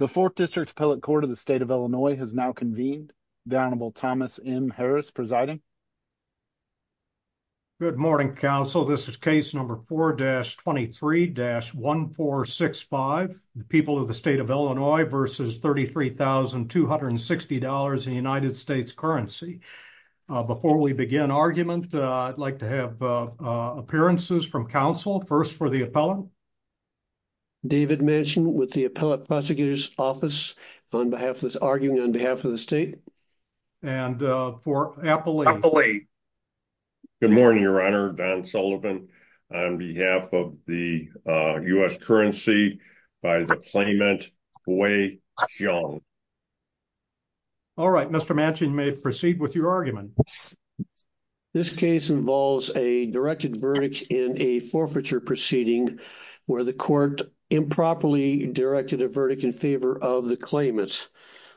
The 4th District Appellate Court of the State of Illinois has now convened. The Honorable Thomas M. Harris presiding. Good morning, counsel. This is case number 4-23-1465, the people of the State of Illinois versus $33,260 in United States Currency. Before we begin argument, I'd like to have appearances from counsel, first for the appellant. David Manchin with the Appellate Prosecutor's Office on behalf of this argument on behalf of the state. And for Appellate. Good morning, Your Honor. Don Sullivan on behalf of the U.S. Currency by the claimant, Wei Xiong. All right, Mr. Manchin, you may proceed with your argument. This case involves a directed verdict in a forfeiture proceeding where the court improperly directed a verdict in favor of the claimant.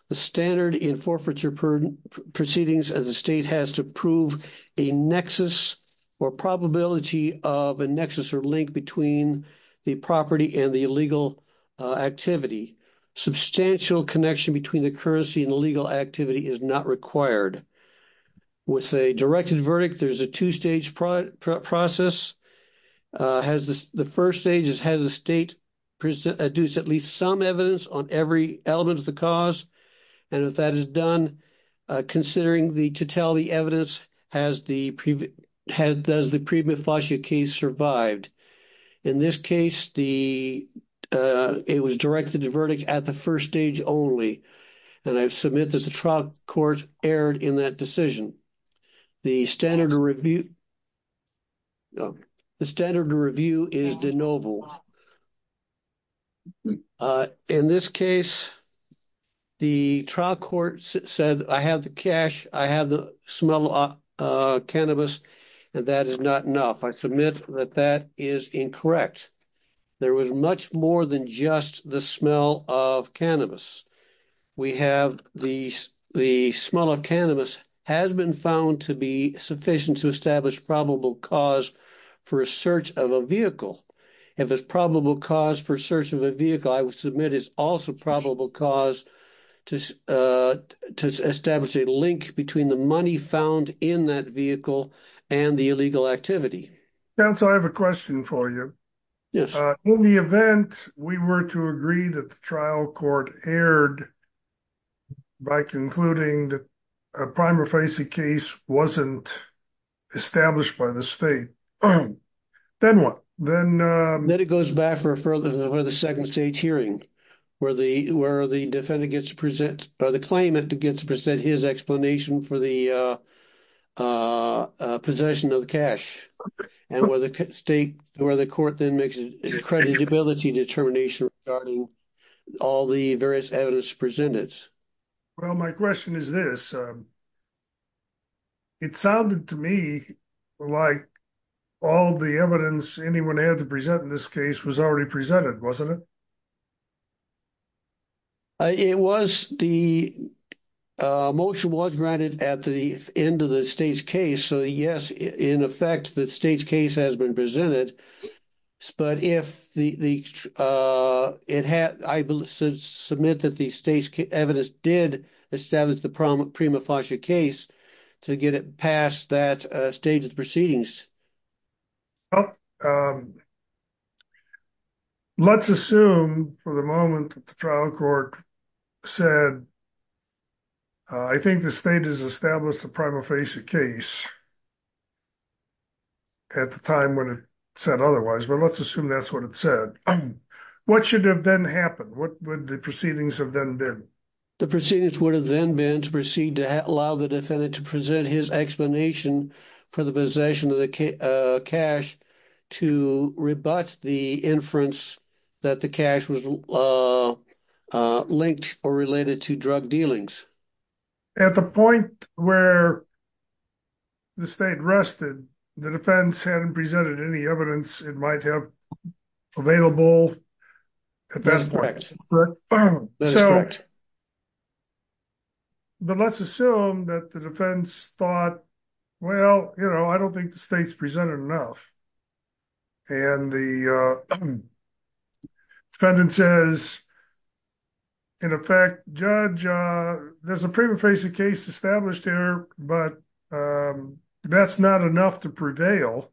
The standard in forfeiture proceedings as a state has to prove a nexus or probability of a nexus or link between the property and the illegal activity. Substantial connection between the currency and the legal activity is not required. With a directed verdict, there's a two-stage process. The first stage is, has the state produced at least some evidence on every element of the cause? And if that is done, considering the totality evidence, has the pre-mifacia case survived? In this case, it was directed to verdict at the first stage only. And I submit that the trial court erred in that decision. The standard review is de novo. In this case, the trial court said, I have the cash, I have the smell of cannabis, and that is not enough. I submit that that is incorrect. There was much more than just the smell of cannabis. We have the smell of cannabis has been found to be sufficient to establish probable cause for a search of a vehicle. If it's probable cause for search of a vehicle, I would submit it's also probable cause to establish a link between the money found in that vehicle and the illegal activity. Counsel, I have a question for you. Yes. In the event we were to agree that the trial court erred by concluding that a prima facie case wasn't established by the state, then what? Then it goes back to the second stage hearing, where the defendant gets to present, or the claimant gets to present his explanation for the possession of the cash. And where the state, where the court then makes an accreditability determination regarding all the various evidence presented. Well, my question is this. It sounded to me like all the evidence anyone had to present in this case was already presented, wasn't it? It was the motion was granted at the end of the state's case. So yes, in effect, the state's case has been presented. But if I submit that the state's evidence did establish the prima facie case to get it past that stage of the proceedings. Well, let's assume for the moment that the trial court said, I think the state has established the prima facie case at the time when it said otherwise. But let's assume that's what it said. What should have then happened? What would the proceedings have then been? The proceedings would have then been to proceed to allow the defendant to present his explanation for the possession of the cash to rebut the inference that the cash was linked or related to drug dealings. At the point where the state rested, the defense hadn't presented any evidence it might have available at that point. But let's assume that the defense thought, well, you know, I don't think the state's presented enough. And the defendant says, in effect, judge, there's a prima facie case established here, but that's not enough to prevail.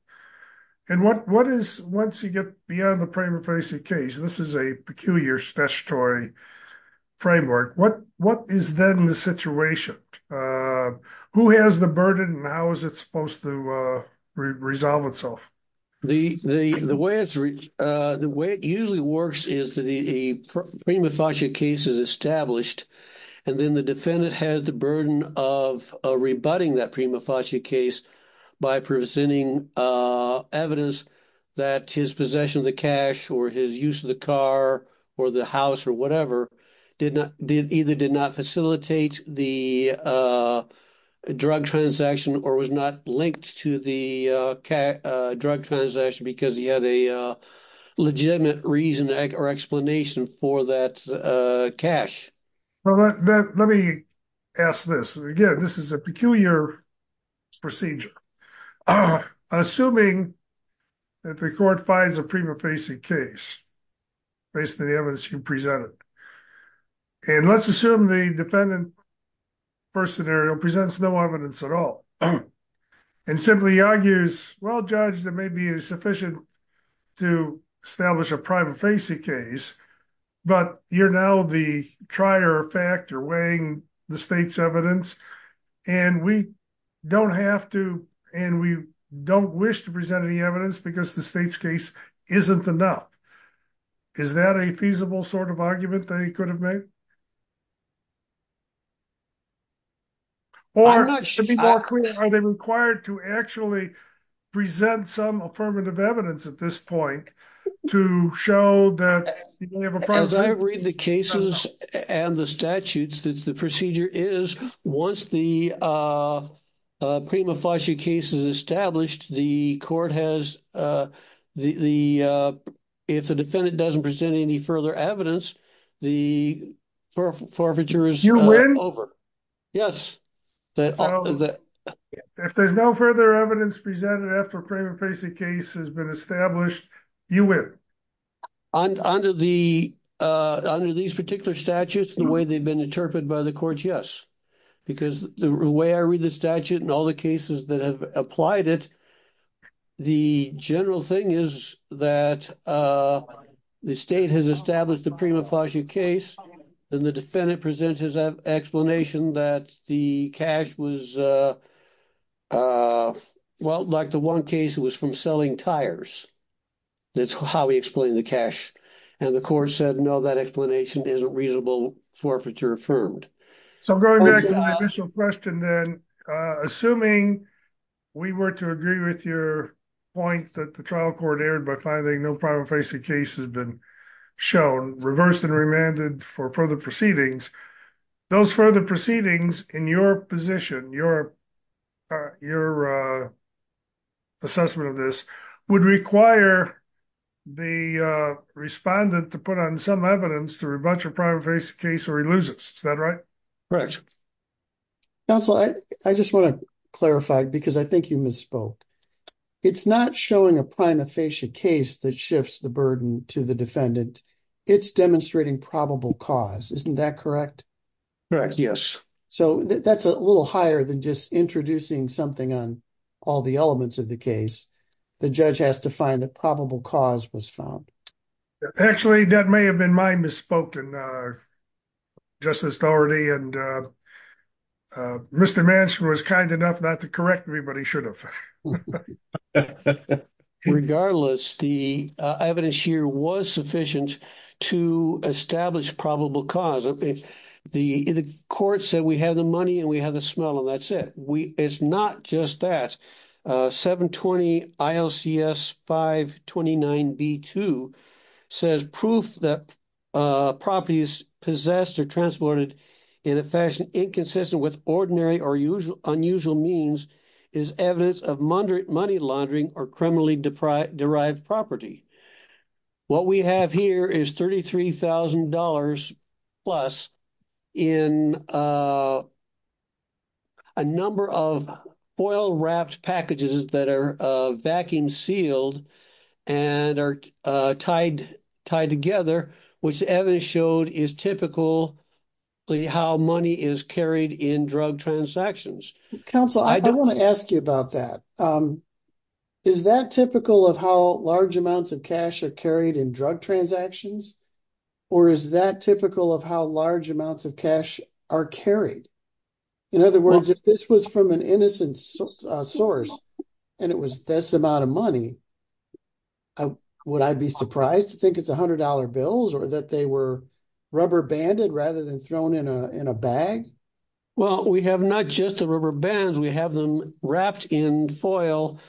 And what is, once you get beyond the prima facie case, this is a peculiar statutory framework. What is then the situation? Who has the burden and how is it supposed to resolve itself? The way it usually works is the prima facie case is established, and then the defendant has the burden of rebutting that prima facie case by presenting evidence that his possession of the cash or his use of the car or the house or whatever either did not facilitate the drug transaction or was not linked to the drug transaction because he had a legitimate reason or explanation for that cash. Let me ask this. Again, this is a peculiar procedure. Assuming that the court finds a prima facie case based on the evidence you presented. And let's assume the defendant first scenario presents no evidence at all. And simply argues, well, judge, that may be sufficient to establish a prima facie case. But you're now the trier effect or weighing the state's evidence. And we don't have to and we don't wish to present any evidence because the state's case isn't enough. Is that a feasible sort of argument they could have made? Or are they required to actually present some affirmative evidence at this point to show that they have a process? As I read the cases and the statutes, the procedure is once the prima facie case is established, the court has the. If the defendant doesn't present any further evidence, the forfeiture is over. Yes. If there's no further evidence presented after a prima facie case has been established, you win. Under these particular statutes, the way they've been interpreted by the court, yes. Because the way I read the statute and all the cases that have applied it. The general thing is that the state has established the prima facie case. And the defendant presents his explanation that the cash was. Well, like the one case, it was from selling tires. That's how we explain the cash. And the court said, no, that explanation is a reasonable forfeiture affirmed. So going back to my initial question, then, assuming we were to agree with your point that the trial court erred by finding no prima facie case has been shown, reversed and remanded for further proceedings. Those further proceedings in your position, your assessment of this, would require the respondent to put on some evidence to rebut your prima facie case or he loses. Is that right? Correct. Counsel, I just want to clarify, because I think you misspoke. It's not showing a prima facie case that shifts the burden to the defendant. It's demonstrating probable cause. Isn't that correct? Yes. So that's a little higher than just introducing something on all the elements of the case. The judge has to find the probable cause was found. Actually, that may have been my misspoken. Justice Daugherty and Mr. Manchin was kind enough not to correct me, but he should have. Regardless, the evidence here was sufficient to establish probable cause. The court said we had the money and we had the smell and that's it. It's not just that. The evidence here is sufficient to establish probable cause. The next item on the agenda is item 720. ILCS 529B2 says proof that property is possessed or transported in a fashion inconsistent with ordinary or unusual means is evidence of money laundering or criminally derived property. What we have here is $33,000 plus in a number of foil-wrapped packages that are vacuum-sealed and are tied together, which the evidence showed is typical how money is carried in drug transactions. Counsel, I do want to ask you about that. Is that typical of how large amounts of cash are carried in drug transactions? Or is that typical of how large amounts of cash are carried? In other words, if this was from an innocent source and it was this amount of money, would I be surprised to think it's $100 bills or that they were rubber-banded rather than thrown in a bag? Well, we have not just the rubber bands. We have them wrapped in foil,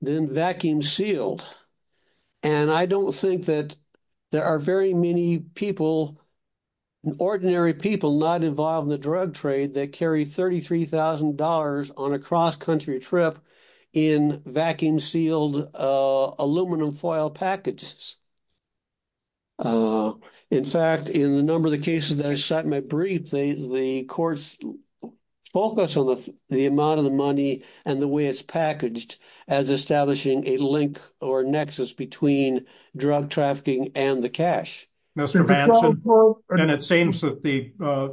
then vacuum-sealed. And I don't think that there are very many people, ordinary people, not involved in the drug trade that carry $33,000 on a cross-country trip in vacuum-sealed aluminum foil packages. In fact, in a number of the cases that I cite in my brief, the courts focus on the amount of the money and the way it's packaged as establishing a link or a nexus between drug trafficking and the cash. Mr. Vanson, it seems that the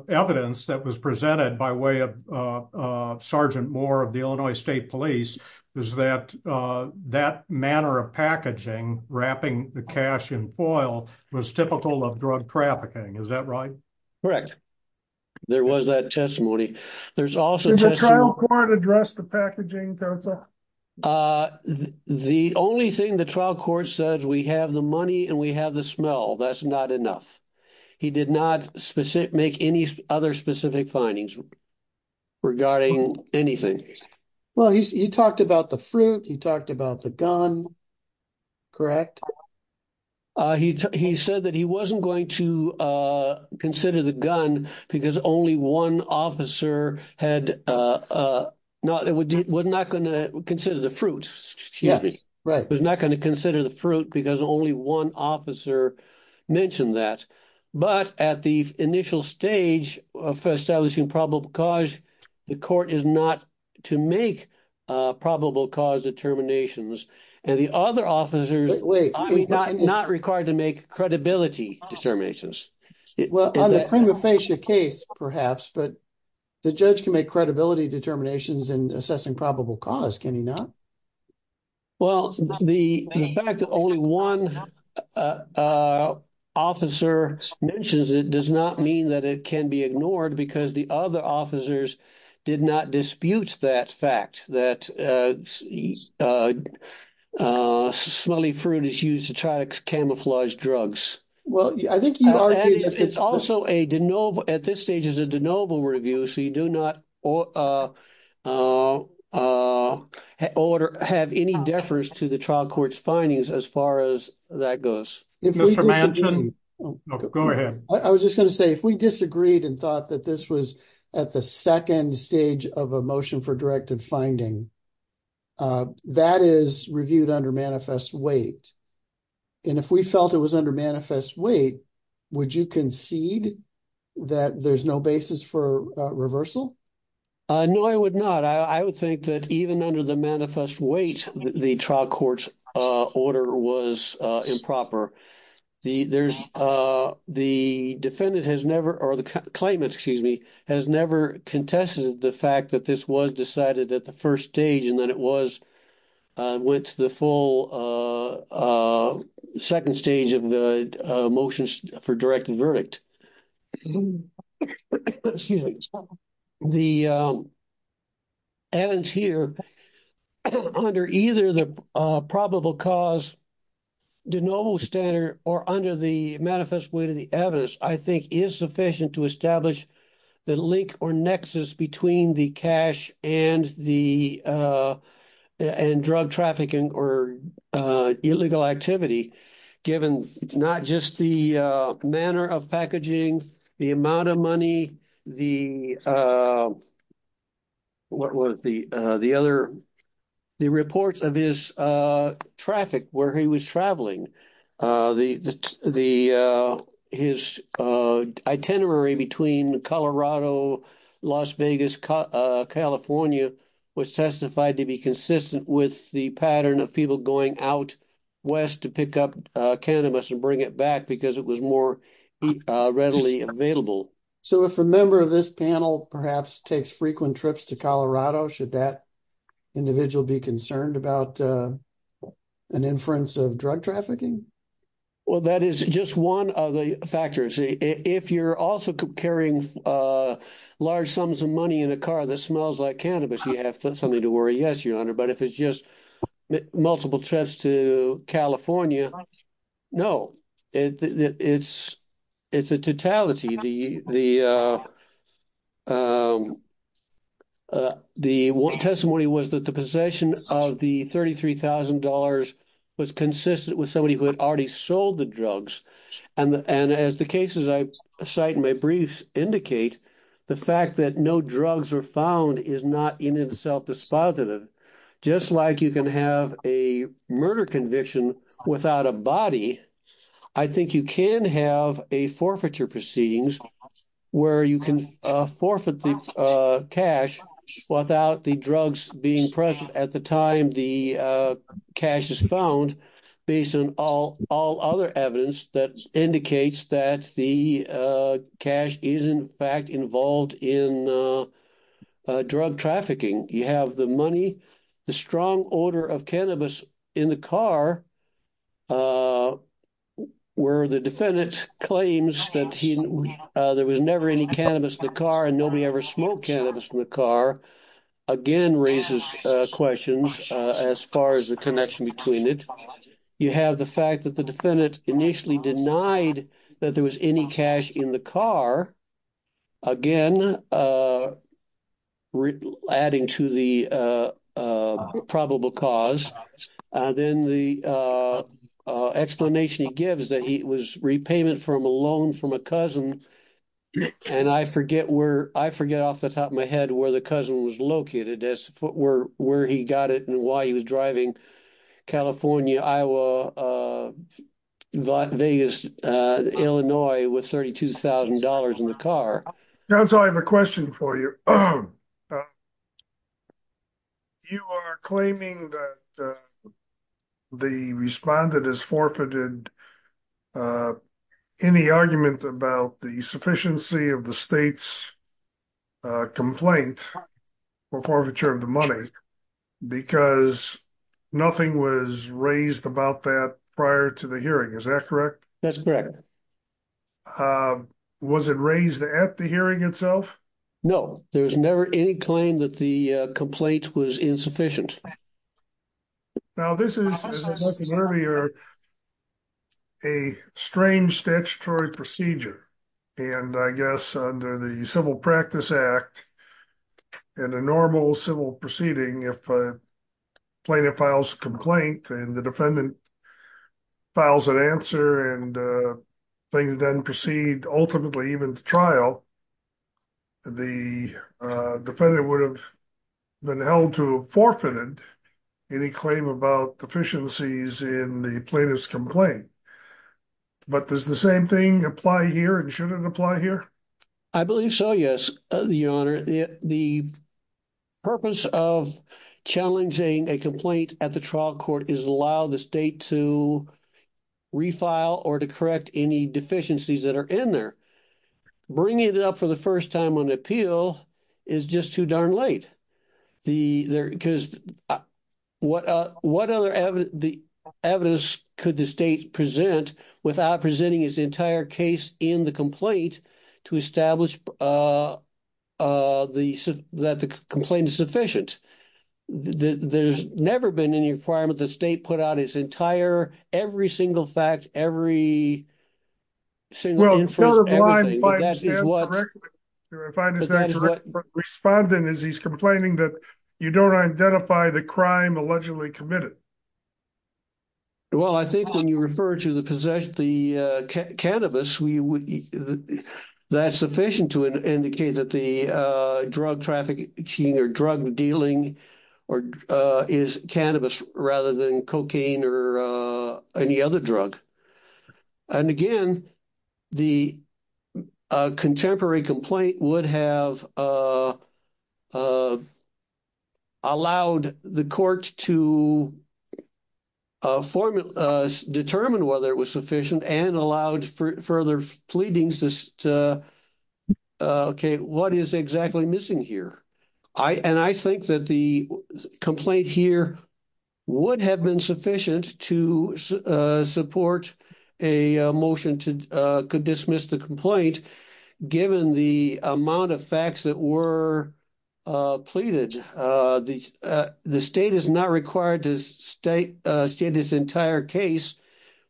evidence that was presented by way of Sergeant Moore of the Illinois State Police is that that manner of packaging, wrapping the cash in foil, was typical of drug trafficking. Is that right? Correct. There was that testimony. Does the trial court address the packaging, Counsel? The only thing the trial court says, we have the money and we have the smell. That's not enough. He did not make any other specific findings regarding anything. Well, he talked about the fruit. He talked about the gun. Correct? He said that he wasn't going to consider the gun because only one officer had—was not going to consider the fruit, excuse me. Right. Was not going to consider the fruit because only one officer mentioned that. But at the initial stage of establishing probable cause, the court is not to make probable cause determinations. And the other officers— Not required to make credibility determinations. Well, on the prima facie case, perhaps, but the judge can make credibility determinations in assessing probable cause, can he not? Well, the fact that only one officer mentions it does not mean that it can be ignored because the other officers did not dispute that fact, that smelly fruit is used to try to camouflage drugs. Well, I think you are— It's also a de novo—at this stage, it's a de novo review, so you do not have any defers to the trial court's findings as far as that goes. Mr. Manchin? Go ahead. I was just going to say, if we disagreed and thought that this was at the second stage of a motion for directive finding, that is reviewed under manifest weight. And if we felt it was under manifest weight, would you concede that there's no basis for reversal? No, I would not. I would think that even under the manifest weight, the trial court's order was improper. The defendant has never—or the claimant, excuse me, has never contested the fact that this was decided at the first stage and that it was—went to the full second stage of the motion for directive verdict. The evidence here, under either the probable cause de novo standard or under the manifest weight of the evidence, I think is sufficient to establish the link or nexus between the cash and the—and drug trafficking or illegal activity, given not just the manner of packaging, the amount of money, the—what was the other—the reports of his traffic, where he was traveling. The—his itinerary between Colorado, Las Vegas, California was testified to be consistent with the pattern of people going out west to pick up cannabis and bring it back because it was more readily available. So if a member of this panel perhaps takes frequent trips to Colorado, should that individual be concerned about an inference of drug trafficking? Well, that is just one of the factors. If you're also carrying large sums of money in a car that smells like cannabis, you have something to worry. Yes, Your Honor, but if it's just multiple trips to California, no. It's—it's a totality. The testimony was that the possession of the $33,000 was consistent with somebody who had already sold the drugs, and as the cases I cite in my briefs indicate, the fact that no drugs were found is not in itself dispositive. Just like you can have a murder conviction without a body, I think you can have a forfeiture proceedings where you can forfeit the cash without the drugs being present at the time the cash is found, based on all other evidence that indicates that the cash is in fact involved in drug trafficking. You have the money, the strong odor of cannabis in the car, where the defendant claims that there was never any cannabis in the car and nobody ever smoked cannabis in the car, again raises questions as far as the connection between it. You have the fact that the defendant initially denied that there was any cash in the car, again adding to the probable cause. Then the explanation he gives that it was repayment from a loan from a cousin, and I forget where—I forget off the top of my head where the cousin was located as to where he got it and why he was driving California, Iowa, Vegas, Illinois with $32,000 in the car. John, so I have a question for you. You are claiming that the respondent has forfeited any argument about the sufficiency of the state's complaint for forfeiture of the money because nothing was raised about that prior to the hearing, is that correct? That's correct. Was it raised at the hearing itself? No, there was never any claim that the complaint was insufficient. Now, this is, as I mentioned earlier, a strange statutory procedure, and I guess under the Civil Practice Act and a normal civil proceeding, if a plaintiff files a complaint and the defendant files an answer and things then proceed ultimately even to trial, the defendant would have been held to have forfeited any claim about deficiencies in the plaintiff's complaint. But does the same thing apply here and shouldn't apply here? I believe so, yes, Your Honor. The purpose of challenging a complaint at the trial court is to allow the state to refile or to correct any deficiencies that are in there. Bringing it up for the first time on appeal is just too darn late. Because what other evidence could the state present without presenting its entire case in the complaint to establish that the complaint is sufficient? There's never been any requirement that the state put out its entire, every single fact, every single inference, everything. Well, counterclaim, if I understand correctly, if I understand correctly, the respondent is complaining that you don't identify the crime allegedly committed. Well, I think when you refer to the cannabis, that's sufficient to indicate that the drug trafficking or drug dealing is cannabis rather than cocaine or any other drug. And again, the contemporary complaint would have allowed the court to determine whether it was sufficient and allowed further pleadings to, okay, what is exactly missing here? And I think that the complaint here would have been sufficient to support a motion to dismiss the complaint, given the amount of facts that were pleaded. The state is not required to state its entire case,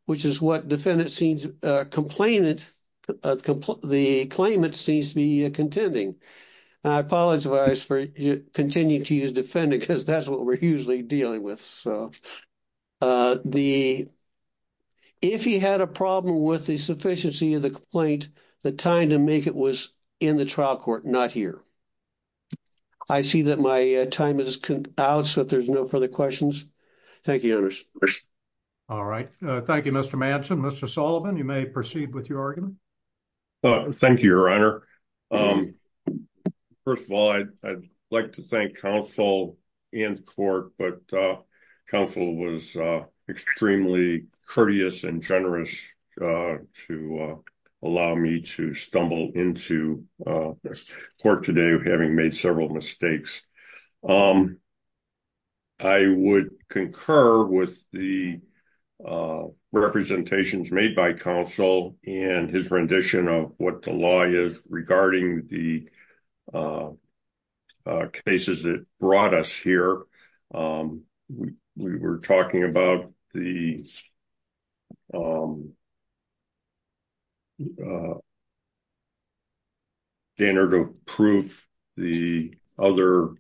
which is what defendant seems complainant, the claimant seems to be contending. I apologize for continuing to use defendant because that's what we're usually dealing with. So, if he had a problem with the sufficiency of the complaint, the time to make it was in the trial court, not here. I see that my time is out, so if there's no further questions. Thank you, Your Honor. All right. Thank you, Mr. Manson. Mr. Sullivan, you may proceed with your argument. Thank you, Your Honor. First of all, I'd like to thank counsel and court, but counsel was extremely courteous and generous to allow me to stumble into court today, having made several mistakes. I would concur with the representations made by counsel and his rendition of what the law is regarding the cases that brought us here. We were talking about the standard of proof, the other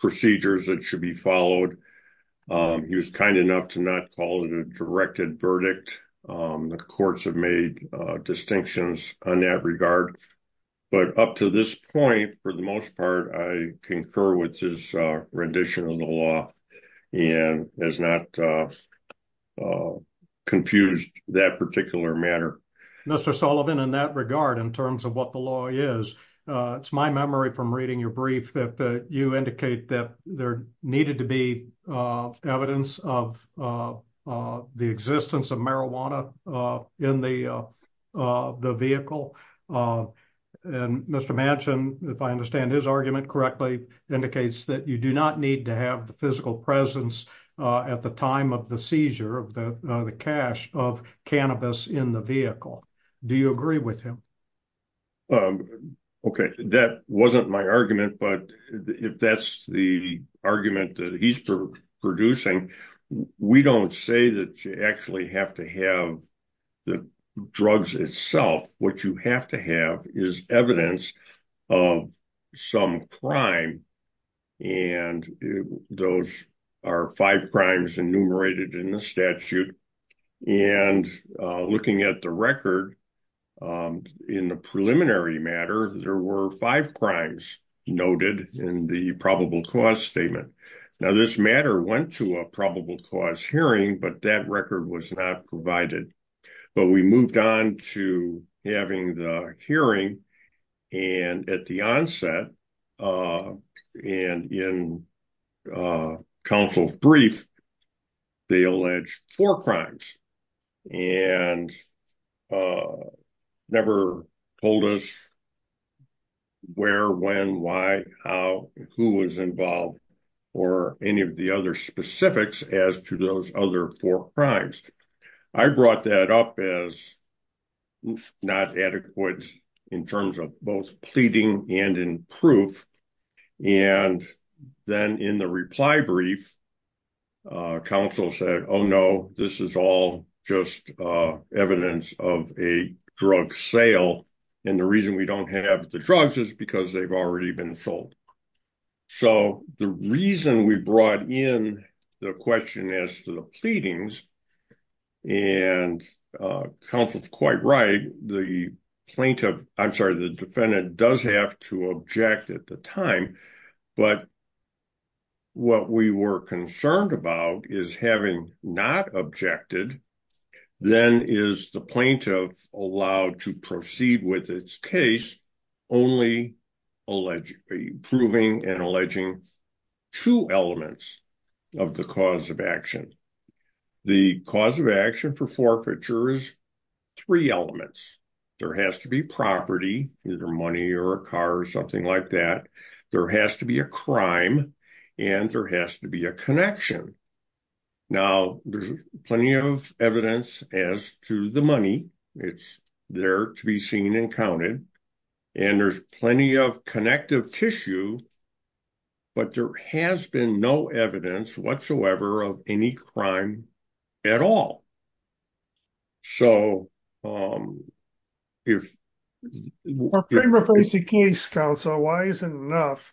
procedures that should be followed. He was kind enough to not call it a directed verdict. The courts have made distinctions on that regard, but up to this point, for the most part, I concur with his rendition of the law and has not confused that particular matter. Mr. Sullivan, in that regard, in terms of what the law is, it's my memory from reading your brief that you indicate that there needed to be evidence of the existence of marijuana in the vehicle. And Mr. Manson, if I understand his argument correctly, indicates that you do not need to have the physical presence at the time of the seizure of the cash of cannabis in the vehicle. Do you agree with him? Okay, that wasn't my argument, but if that's the argument that he's producing, we don't say that you actually have to have the drugs itself. What you have to have is evidence of some crime, and those are five crimes enumerated in the statute. And looking at the record in the preliminary matter, there were five crimes noted in the probable cause statement. Now, this matter went to a probable cause hearing, but that record was not provided. But we moved on to having the hearing, and at the onset, and in counsel's brief, they alleged four crimes and never told us where, when, why, how, who was involved, or any of the other specifics as to those other four crimes. I brought that up as not adequate in terms of both pleading and in proof. And then in the reply brief, counsel said, oh, no, this is all just evidence of a drug sale. And the reason we don't have the drugs is because they've already been sold. So the reason we brought in the question as to the pleadings, and counsel's quite right, the plaintiff, I'm sorry, the defendant does have to object at the time. But what we were concerned about is having not objected, then is the plaintiff allowed to proceed with its case only proving and alleging two elements of the cause of action. The cause of action for forfeiture is three elements. There has to be property, either money or a car or something like that. There has to be a crime, and there has to be a connection. Now, there's plenty of evidence as to the money, it's there to be seen and counted. And there's plenty of connective tissue. But there has been no evidence whatsoever of any crime at all. So, if... In the case, counsel, why is it enough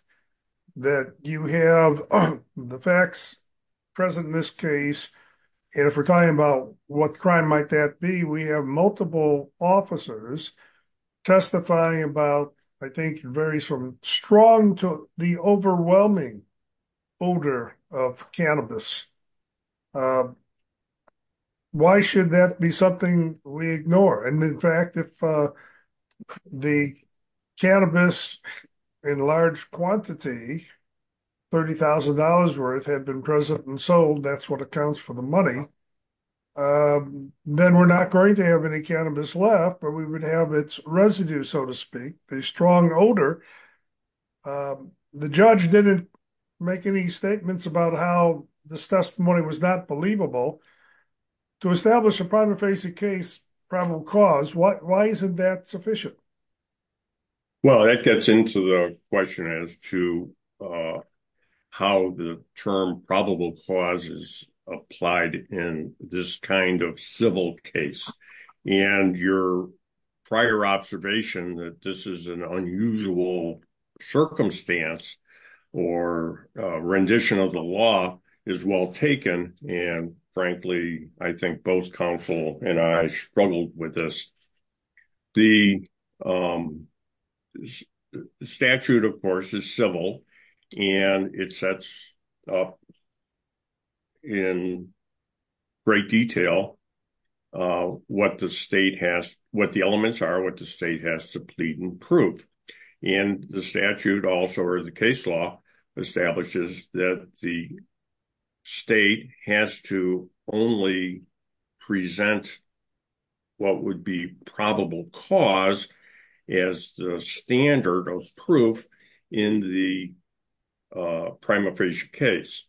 that you have the facts present in this case? And if we're talking about what crime might that be, we have multiple officers testifying about, I think it varies from strong to the overwhelming odor of cannabis. Why should that be something we ignore? And in fact, if the cannabis in large quantity, $30,000 worth had been present and sold, that's what accounts for the money. Then we're not going to have any cannabis left, but we would have its residue, so to speak, a strong odor. The judge didn't make any statements about how this testimony was not believable. To establish a primary facing case, probable cause, why isn't that sufficient? Well, that gets into the question as to how the term probable cause is applied in this kind of civil case. And your prior observation that this is an unusual circumstance or rendition of the law is well taken. And frankly, I think both counsel and I struggled with this. The statute, of course, is civil, and it sets up in great detail what the state has, what the elements are, what the state has to plead and prove. And the statute also, or the case law, establishes that the state has to only present what would be probable cause as the standard of proof in the prima facie case.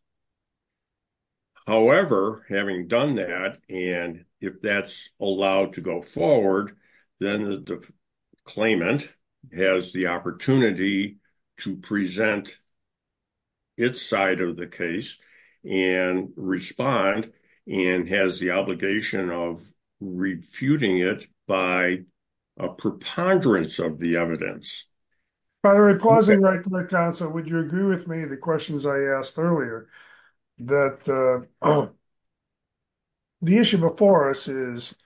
However, having done that, and if that's allowed to go forward, then the claimant has the opportunity to present its side of the case and respond and has the obligation of refuting it by a preponderance of the evidence. By the way, pausing right there, counsel, would you agree with me, the questions I asked earlier, that the issue before us is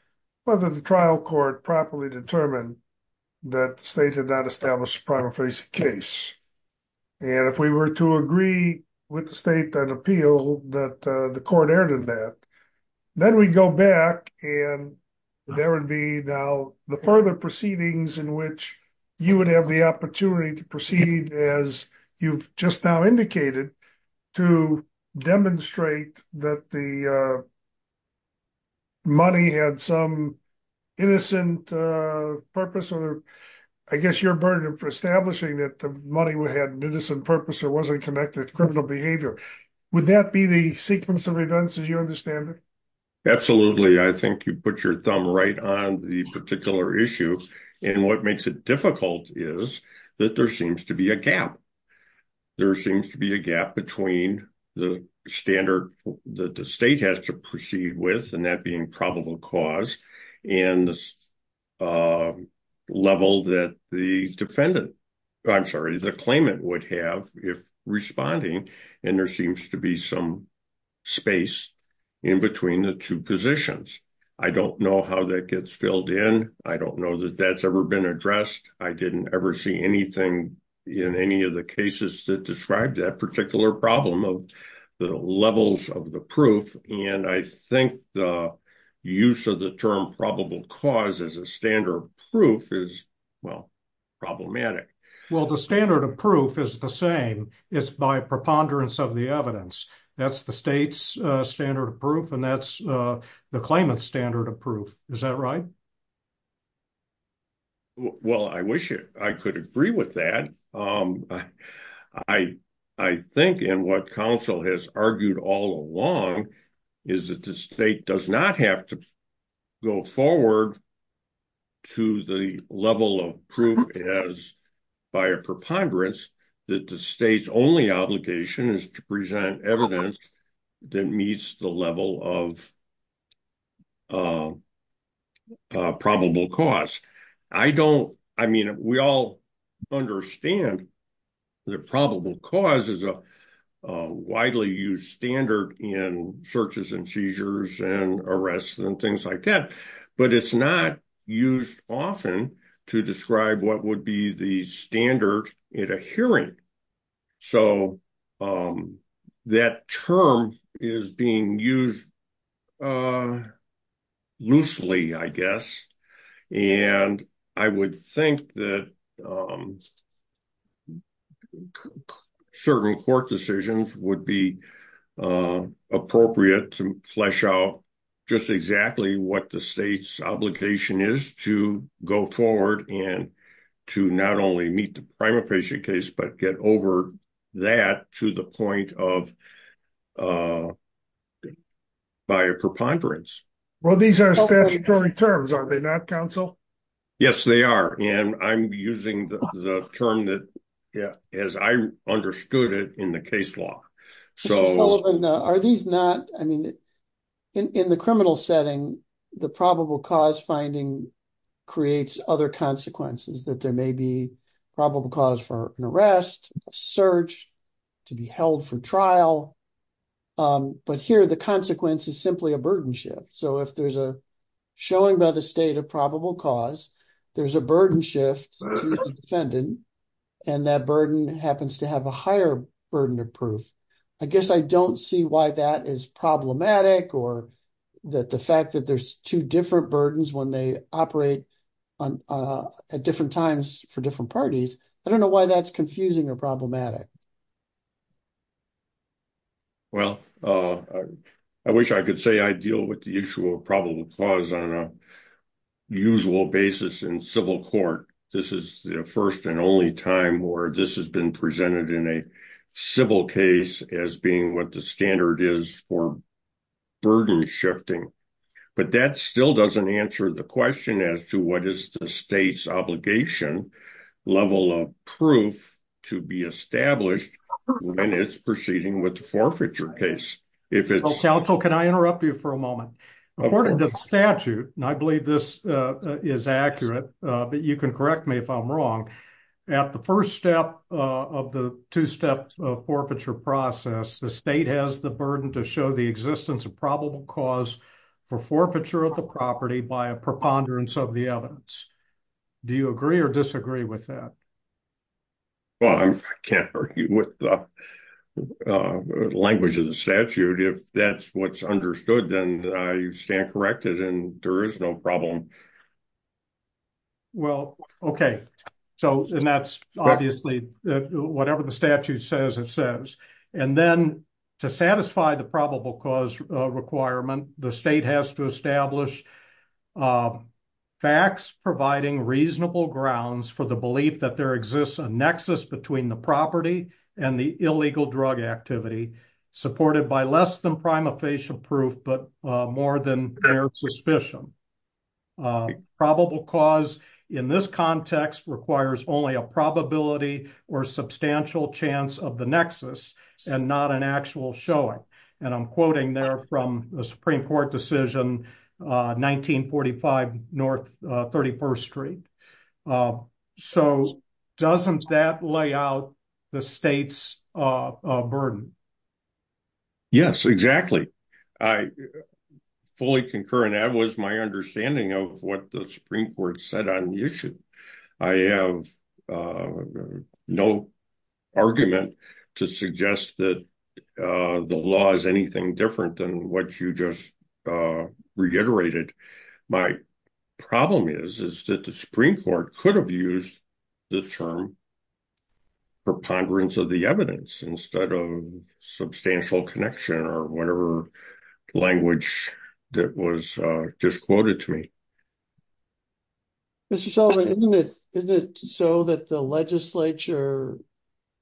whether the trial court properly determined that the state had not established a primary facing case. And if we were to agree with the state that appeal that the court erred in that, then we'd go back and there would be now the further proceedings in which you would have the opportunity to proceed as you've just now indicated to demonstrate that the money had some innocent purpose. I guess you're burdened for establishing that the money had an innocent purpose or wasn't connected to criminal behavior. Would that be the sequence of events as you understand it? Absolutely. I think you put your thumb right on the particular issue. And what makes it difficult is that there seems to be a gap. There seems to be a gap between the standard that the state has to proceed with, and that being probable cause, and the level that the defendant, I'm sorry, the claimant would have if responding, and there seems to be some space in between the two positions. I don't know how that gets filled in. I don't know that that's ever been addressed. I didn't ever see anything in any of the cases that described that particular problem of the levels of the proof. And I think the use of the term probable cause as a standard proof is, well, problematic. Well, the standard of proof is the same. It's by preponderance of the evidence. That's the state's standard of proof, and that's the claimant's standard of proof. Is that right? Well, I wish I could agree with that. I think, and what counsel has argued all along, is that the state does not have to go forward to the level of proof as by a preponderance that the state's only obligation is to present evidence that meets the level of probable cause. I don't, I mean, we all understand that probable cause is a widely used standard in searches and seizures and arrests and things like that, but it's not used often to describe what would be the standard in a hearing. So that term is being used loosely, I guess. And I would think that certain court decisions would be appropriate to flesh out just exactly what the state's obligation is to go forward and to not only meet the primary patient case, but get over that to the point of by a preponderance. Well, these are statutory terms, are they not, counsel? Yes, they are. And I'm using the term that, as I understood it in the case law. Are these not, I mean, in the criminal setting, the probable cause finding creates other consequences that there may be probable cause for an arrest, search, to be held for trial. But here the consequence is simply a burden shift. So if there's a showing by the state of probable cause, there's a burden shift to the defendant, and that burden happens to have a higher burden of proof. I guess I don't see why that is problematic or that the fact that there's two different burdens when they operate at different times for different parties. I don't know why that's confusing or problematic. Well, I wish I could say I deal with the issue of probable cause on a usual basis in civil court. This is the first and only time where this has been presented in a civil case as being what the standard is for burden shifting. But that still doesn't answer the question as to what is the state's obligation level of proof to be established when it's proceeding with the forfeiture case. Counsel, can I interrupt you for a moment? According to the statute, and I believe this is accurate, but you can correct me if I'm wrong. At the first step of the two-step forfeiture process, the state has the burden to show the existence of probable cause for forfeiture of the property by a preponderance of the evidence. Do you agree or disagree with that? Well, I can't argue with the language of the statute. If that's what's understood, then I stand corrected and there is no problem. Well, okay. So, and that's obviously whatever the statute says it says. And then to satisfy the probable cause requirement, the state has to establish facts providing reasonable grounds for the belief that there exists a nexus between the property and the illegal drug activity supported by less than prima facie proof, but more than their suspicion. Probable cause in this context requires only a probability or substantial chance of the nexus and not an actual showing. And I'm quoting there from the Supreme Court decision 1945 North 31st Street. So, doesn't that lay out the state's burden? Yes, exactly. I fully concur and that was my understanding of what the Supreme Court said on the issue. I have no argument to suggest that the law is anything different than what you just reiterated. My problem is, is that the Supreme Court could have used the term preponderance of the evidence instead of substantial connection or whatever language that was just quoted to me. Mr. Sullivan, isn't it so that the legislature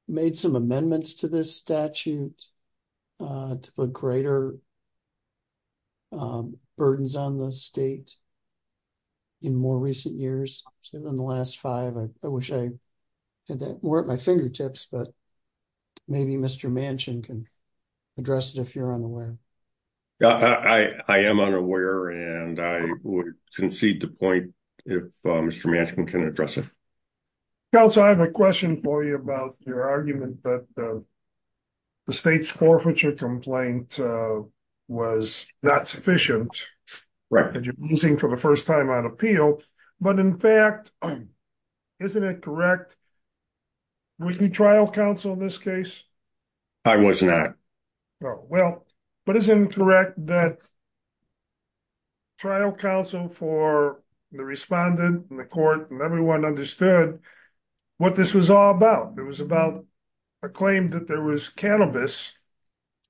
made some amendments to this statute to put greater burdens on the state in more recent years than the last five? I wish I had that more at my fingertips, but maybe Mr. Manchin can address it if you're unaware. I am unaware and I would concede the point if Mr. Manchin can address it. Counsel, I have a question for you about your argument that the state's forfeiture complaint was not sufficient. Correct. That you're using for the first time on appeal, but in fact, isn't it correct? Was the trial counsel in this case? I was not. Well, but isn't it correct that trial counsel for the respondent and the court and everyone understood what this was all about? It was about a claim that there was cannabis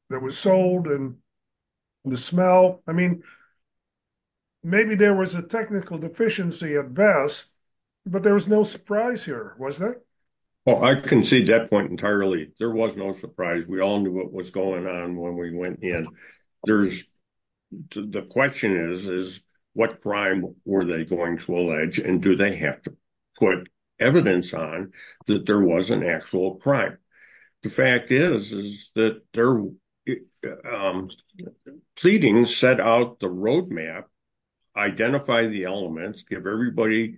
that was sold and the smell. I mean, maybe there was a technical deficiency at best, but there was no surprise here, was there? I concede that point entirely. There was no surprise. We all knew what was going on when we went in. The question is, is what crime were they going to allege and do they have to put evidence on that there was an actual crime? The fact is, is that they're pleading set out the roadmap, identify the elements, give everybody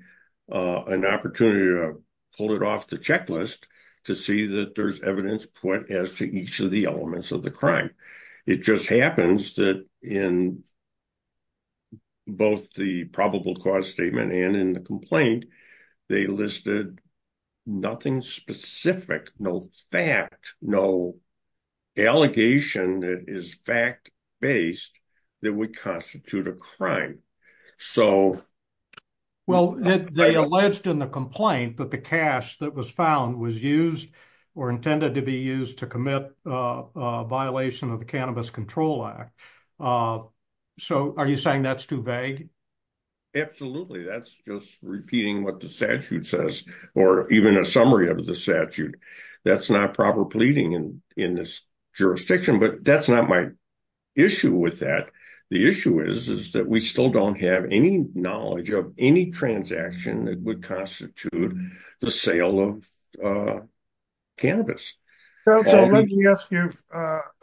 an opportunity to pull it off the checklist to see that there's evidence put as to each of the elements of the crime. It just happens that in both the probable cause statement and in the complaint, they listed nothing specific, no fact, no allegation that is fact based that would constitute a crime. Well, they alleged in the complaint that the cash that was found was used or intended to be used to commit a violation of the Cannabis Control Act. So are you saying that's too vague? Absolutely. That's just repeating what the statute says, or even a summary of the statute. That's not proper pleading in this jurisdiction, but that's not my issue with that. The issue is, is that we still don't have any knowledge of any transaction that would constitute the sale of cannabis. Counsel, let me ask you,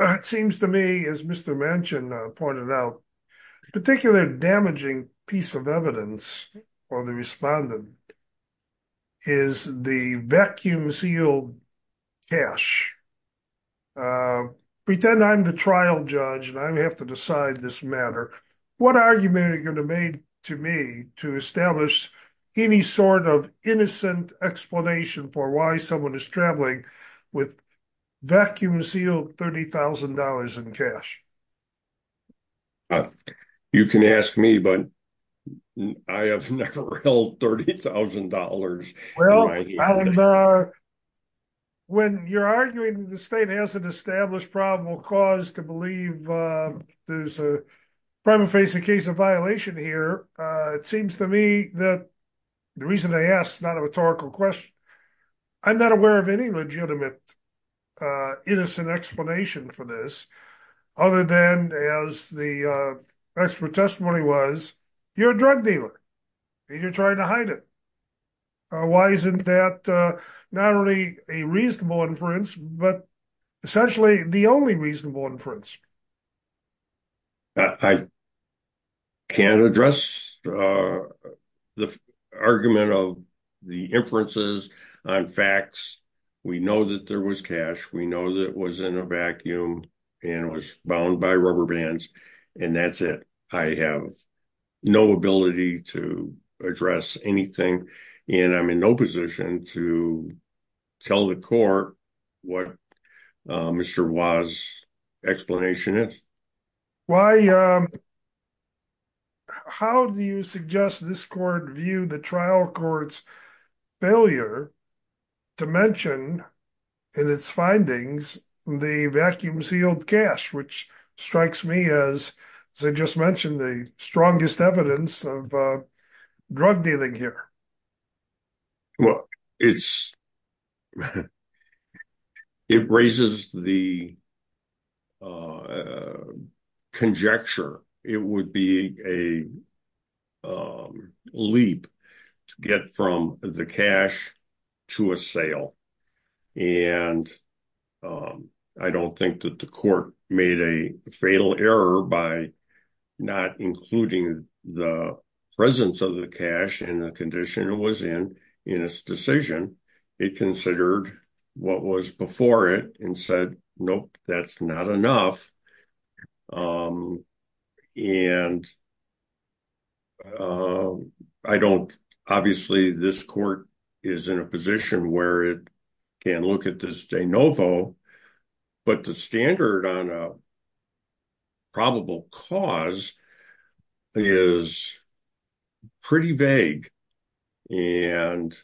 it seems to me as Mr. Manchin pointed out, a particularly damaging piece of evidence for the respondent is the vacuum sealed cash. Pretend I'm the trial judge and I have to decide this matter. What argument are you going to make to me to establish any sort of innocent explanation for why someone is traveling with vacuum sealed $30,000 in cash? You can ask me, but I have never held $30,000. Well, when you're arguing the state has an established probable cause to believe there's a crime of facing case of violation here, it seems to me that the reason I asked, not a rhetorical question, I'm not aware of any legitimate innocent explanation for this. Other than as the expert testimony was, you're a drug dealer and you're trying to hide it. Why isn't that not only a reasonable inference, but essentially the only reasonable inference? I can't address the argument of the inferences on facts. We know that there was cash. We know that it was in a vacuum and was bound by rubber bands and that's it. I have no ability to address anything and I'm in no position to tell the court what Mr. Was explanation is. How do you suggest this court view the trial court's failure to mention in its findings the vacuum sealed cash, which strikes me as, as I just mentioned, the strongest evidence of drug dealing here? Well, it's, it raises the conjecture, it would be a leap to get from the cash to a sale. And I don't think that the court made a fatal error by not including the presence of the cash and the condition it was in, in its decision. It considered what was before it and said, Nope, that's not enough. And I don't, obviously this court is in a position where it can look at this de novo, but the standard on a probable cause is pretty vague. And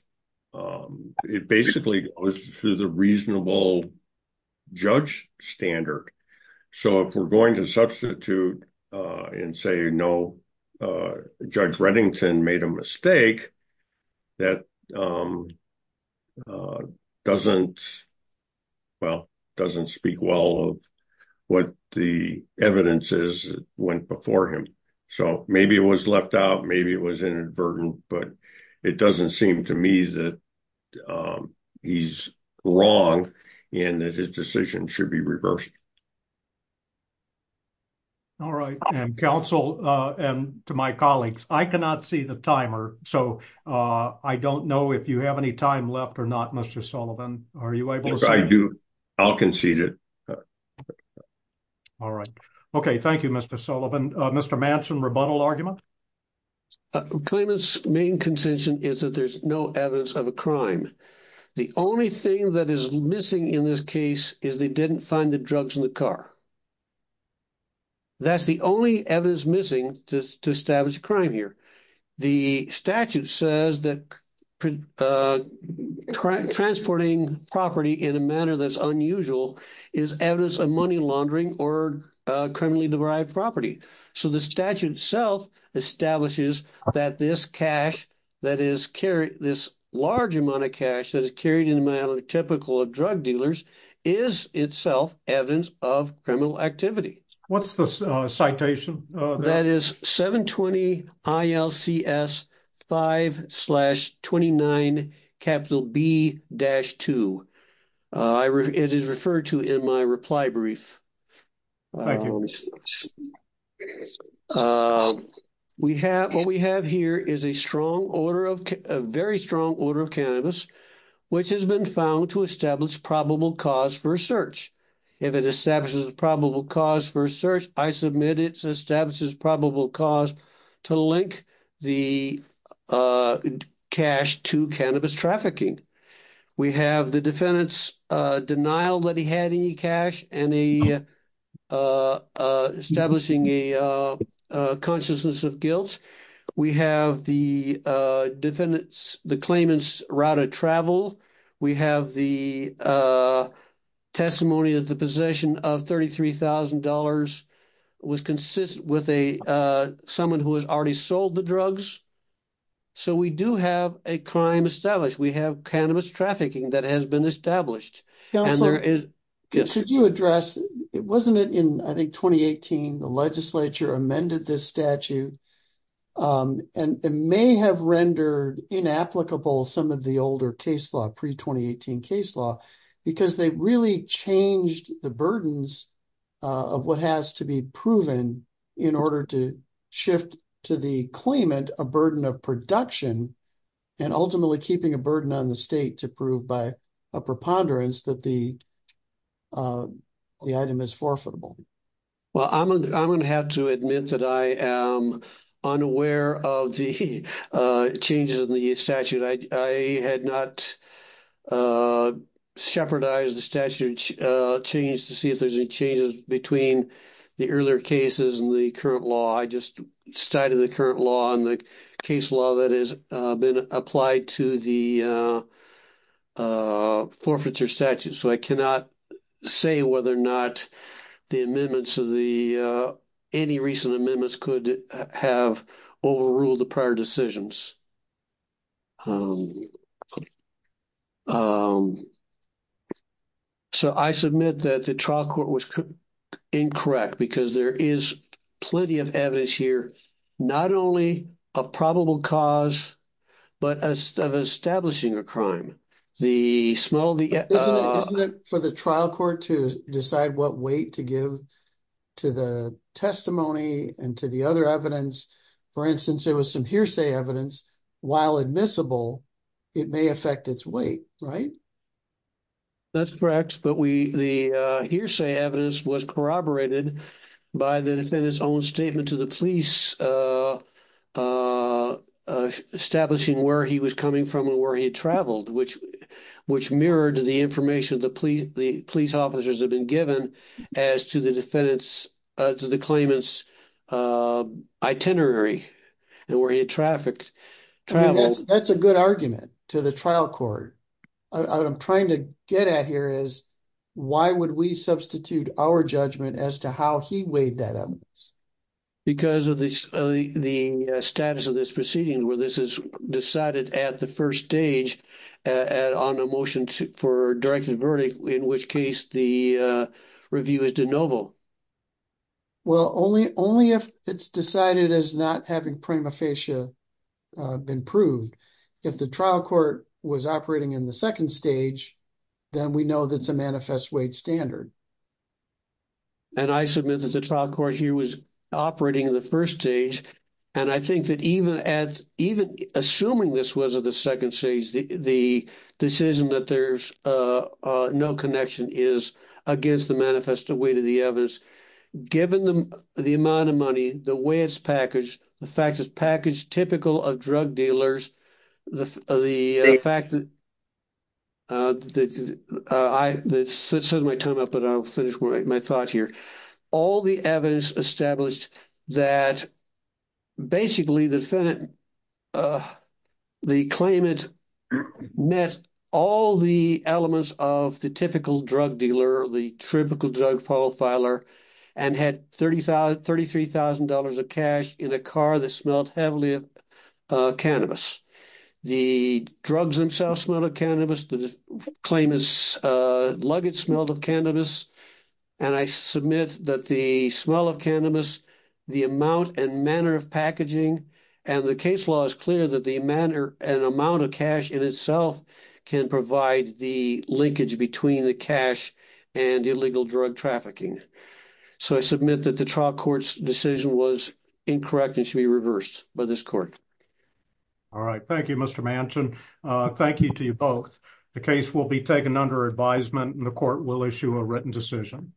it basically goes through the reasonable judge standard. So if we're going to substitute and say, no, Judge Reddington made a mistake that doesn't, well, doesn't speak well of what the evidence is went before him. So, maybe it was left out, maybe it was inadvertent, but it doesn't seem to me that he's wrong, and that his decision should be reversed. All right, and counsel, and to my colleagues, I cannot see the timer, so I don't know if you have any time left or not Mr Sullivan, are you able to do. I'll concede it. All right. Okay, thank you, Mr Sullivan, Mr Manson rebuttal argument. Claimants main contention is that there's no evidence of a crime. The only thing that is missing in this case is they didn't find the drugs in the car. That's the only evidence missing to establish crime here. The statute says that transporting property in a manner that's unusual is evidence of money laundering or criminally derived property. So, the statute itself establishes that this cash that is carried, this large amount of cash that is carried in a manner typical of drug dealers is itself evidence of criminal activity. What's the citation? That is 720-ILCS-5-29-B-2. It is referred to in my reply brief. Thank you. What we have here is a very strong order of cannabis, which has been found to establish probable cause for a search. If it establishes probable cause for a search, I submit it establishes probable cause to link the cash to cannabis trafficking. We have the defendant's denial that he had any cash and establishing a consciousness of guilt. We have the defendant's, the claimant's route of travel. We have the testimony that the possession of $33,000 was consistent with someone who has already sold the drugs. So, we do have a crime established. We have cannabis trafficking that has been established. Counselor, could you address, wasn't it in, I think, 2018, the legislature amended this statute and may have rendered inapplicable some of the older case law, pre-2018 case law, because they really changed the burdens of what has to be proven in order to shift to the claimant a burden of production and ultimately keeping a burden on the state to prove by a preponderance that the item is forfeitable. Well, I'm going to have to admit that I am unaware of the changes in the statute. I had not shepherdized the statute change to see if there's any changes between the earlier cases and the current law. I just cited the current law and the case law that has been applied to the forfeiture statute. So, I cannot say whether or not the amendments of the, any recent amendments could have overruled the prior decisions. So, I submit that the trial court was incorrect, because there is plenty of evidence here, not only of probable cause, but of establishing a crime. Isn't it for the trial court to decide what weight to give to the testimony and to the other evidence? For instance, there was some hearsay evidence, while admissible, it may affect its weight, right? That's correct, but the hearsay evidence was corroborated by the defendant's own statement to the police establishing where he was coming from and where he had traveled, which mirrored the information the police officers had been given as to the defendant's, to the claimant's itinerary and where he had traveled. That's a good argument to the trial court. What I'm trying to get at here is, why would we substitute our judgment as to how he weighed that evidence? Because of the status of this proceeding, where this is decided at the first stage on a motion for directed verdict, in which case the review is de novo. Well, only if it's decided as not having prima facie been proved. If the trial court was operating in the second stage, then we know that's a manifest weight standard. And I submit that the trial court here was operating in the first stage, and I think that even assuming this was at the second stage, the decision that there's no connection is against the manifest weight of the evidence. Given the amount of money, the way it's packaged, the fact it's packaged typical of drug dealers, the fact that I said my time up, but I'll finish my thought here. All the evidence established that basically the defendant, the claimant, met all the elements of the typical drug dealer, the typical drug profiler, and had $33,000 of cash in a car that smelled heavily of cannabis. The drugs themselves smelled of cannabis. The claimant's luggage smelled of cannabis, and I submit that the smell of cannabis, the amount and manner of packaging, and the case law is clear that the amount of cash in itself can provide the linkage between the cash and illegal drug trafficking. So I submit that the trial court's decision was incorrect and should be reversed by this court. All right. Thank you, Mr. Manchin. Thank you to you both. The case will be taken under advisement, and the court will issue a written decision.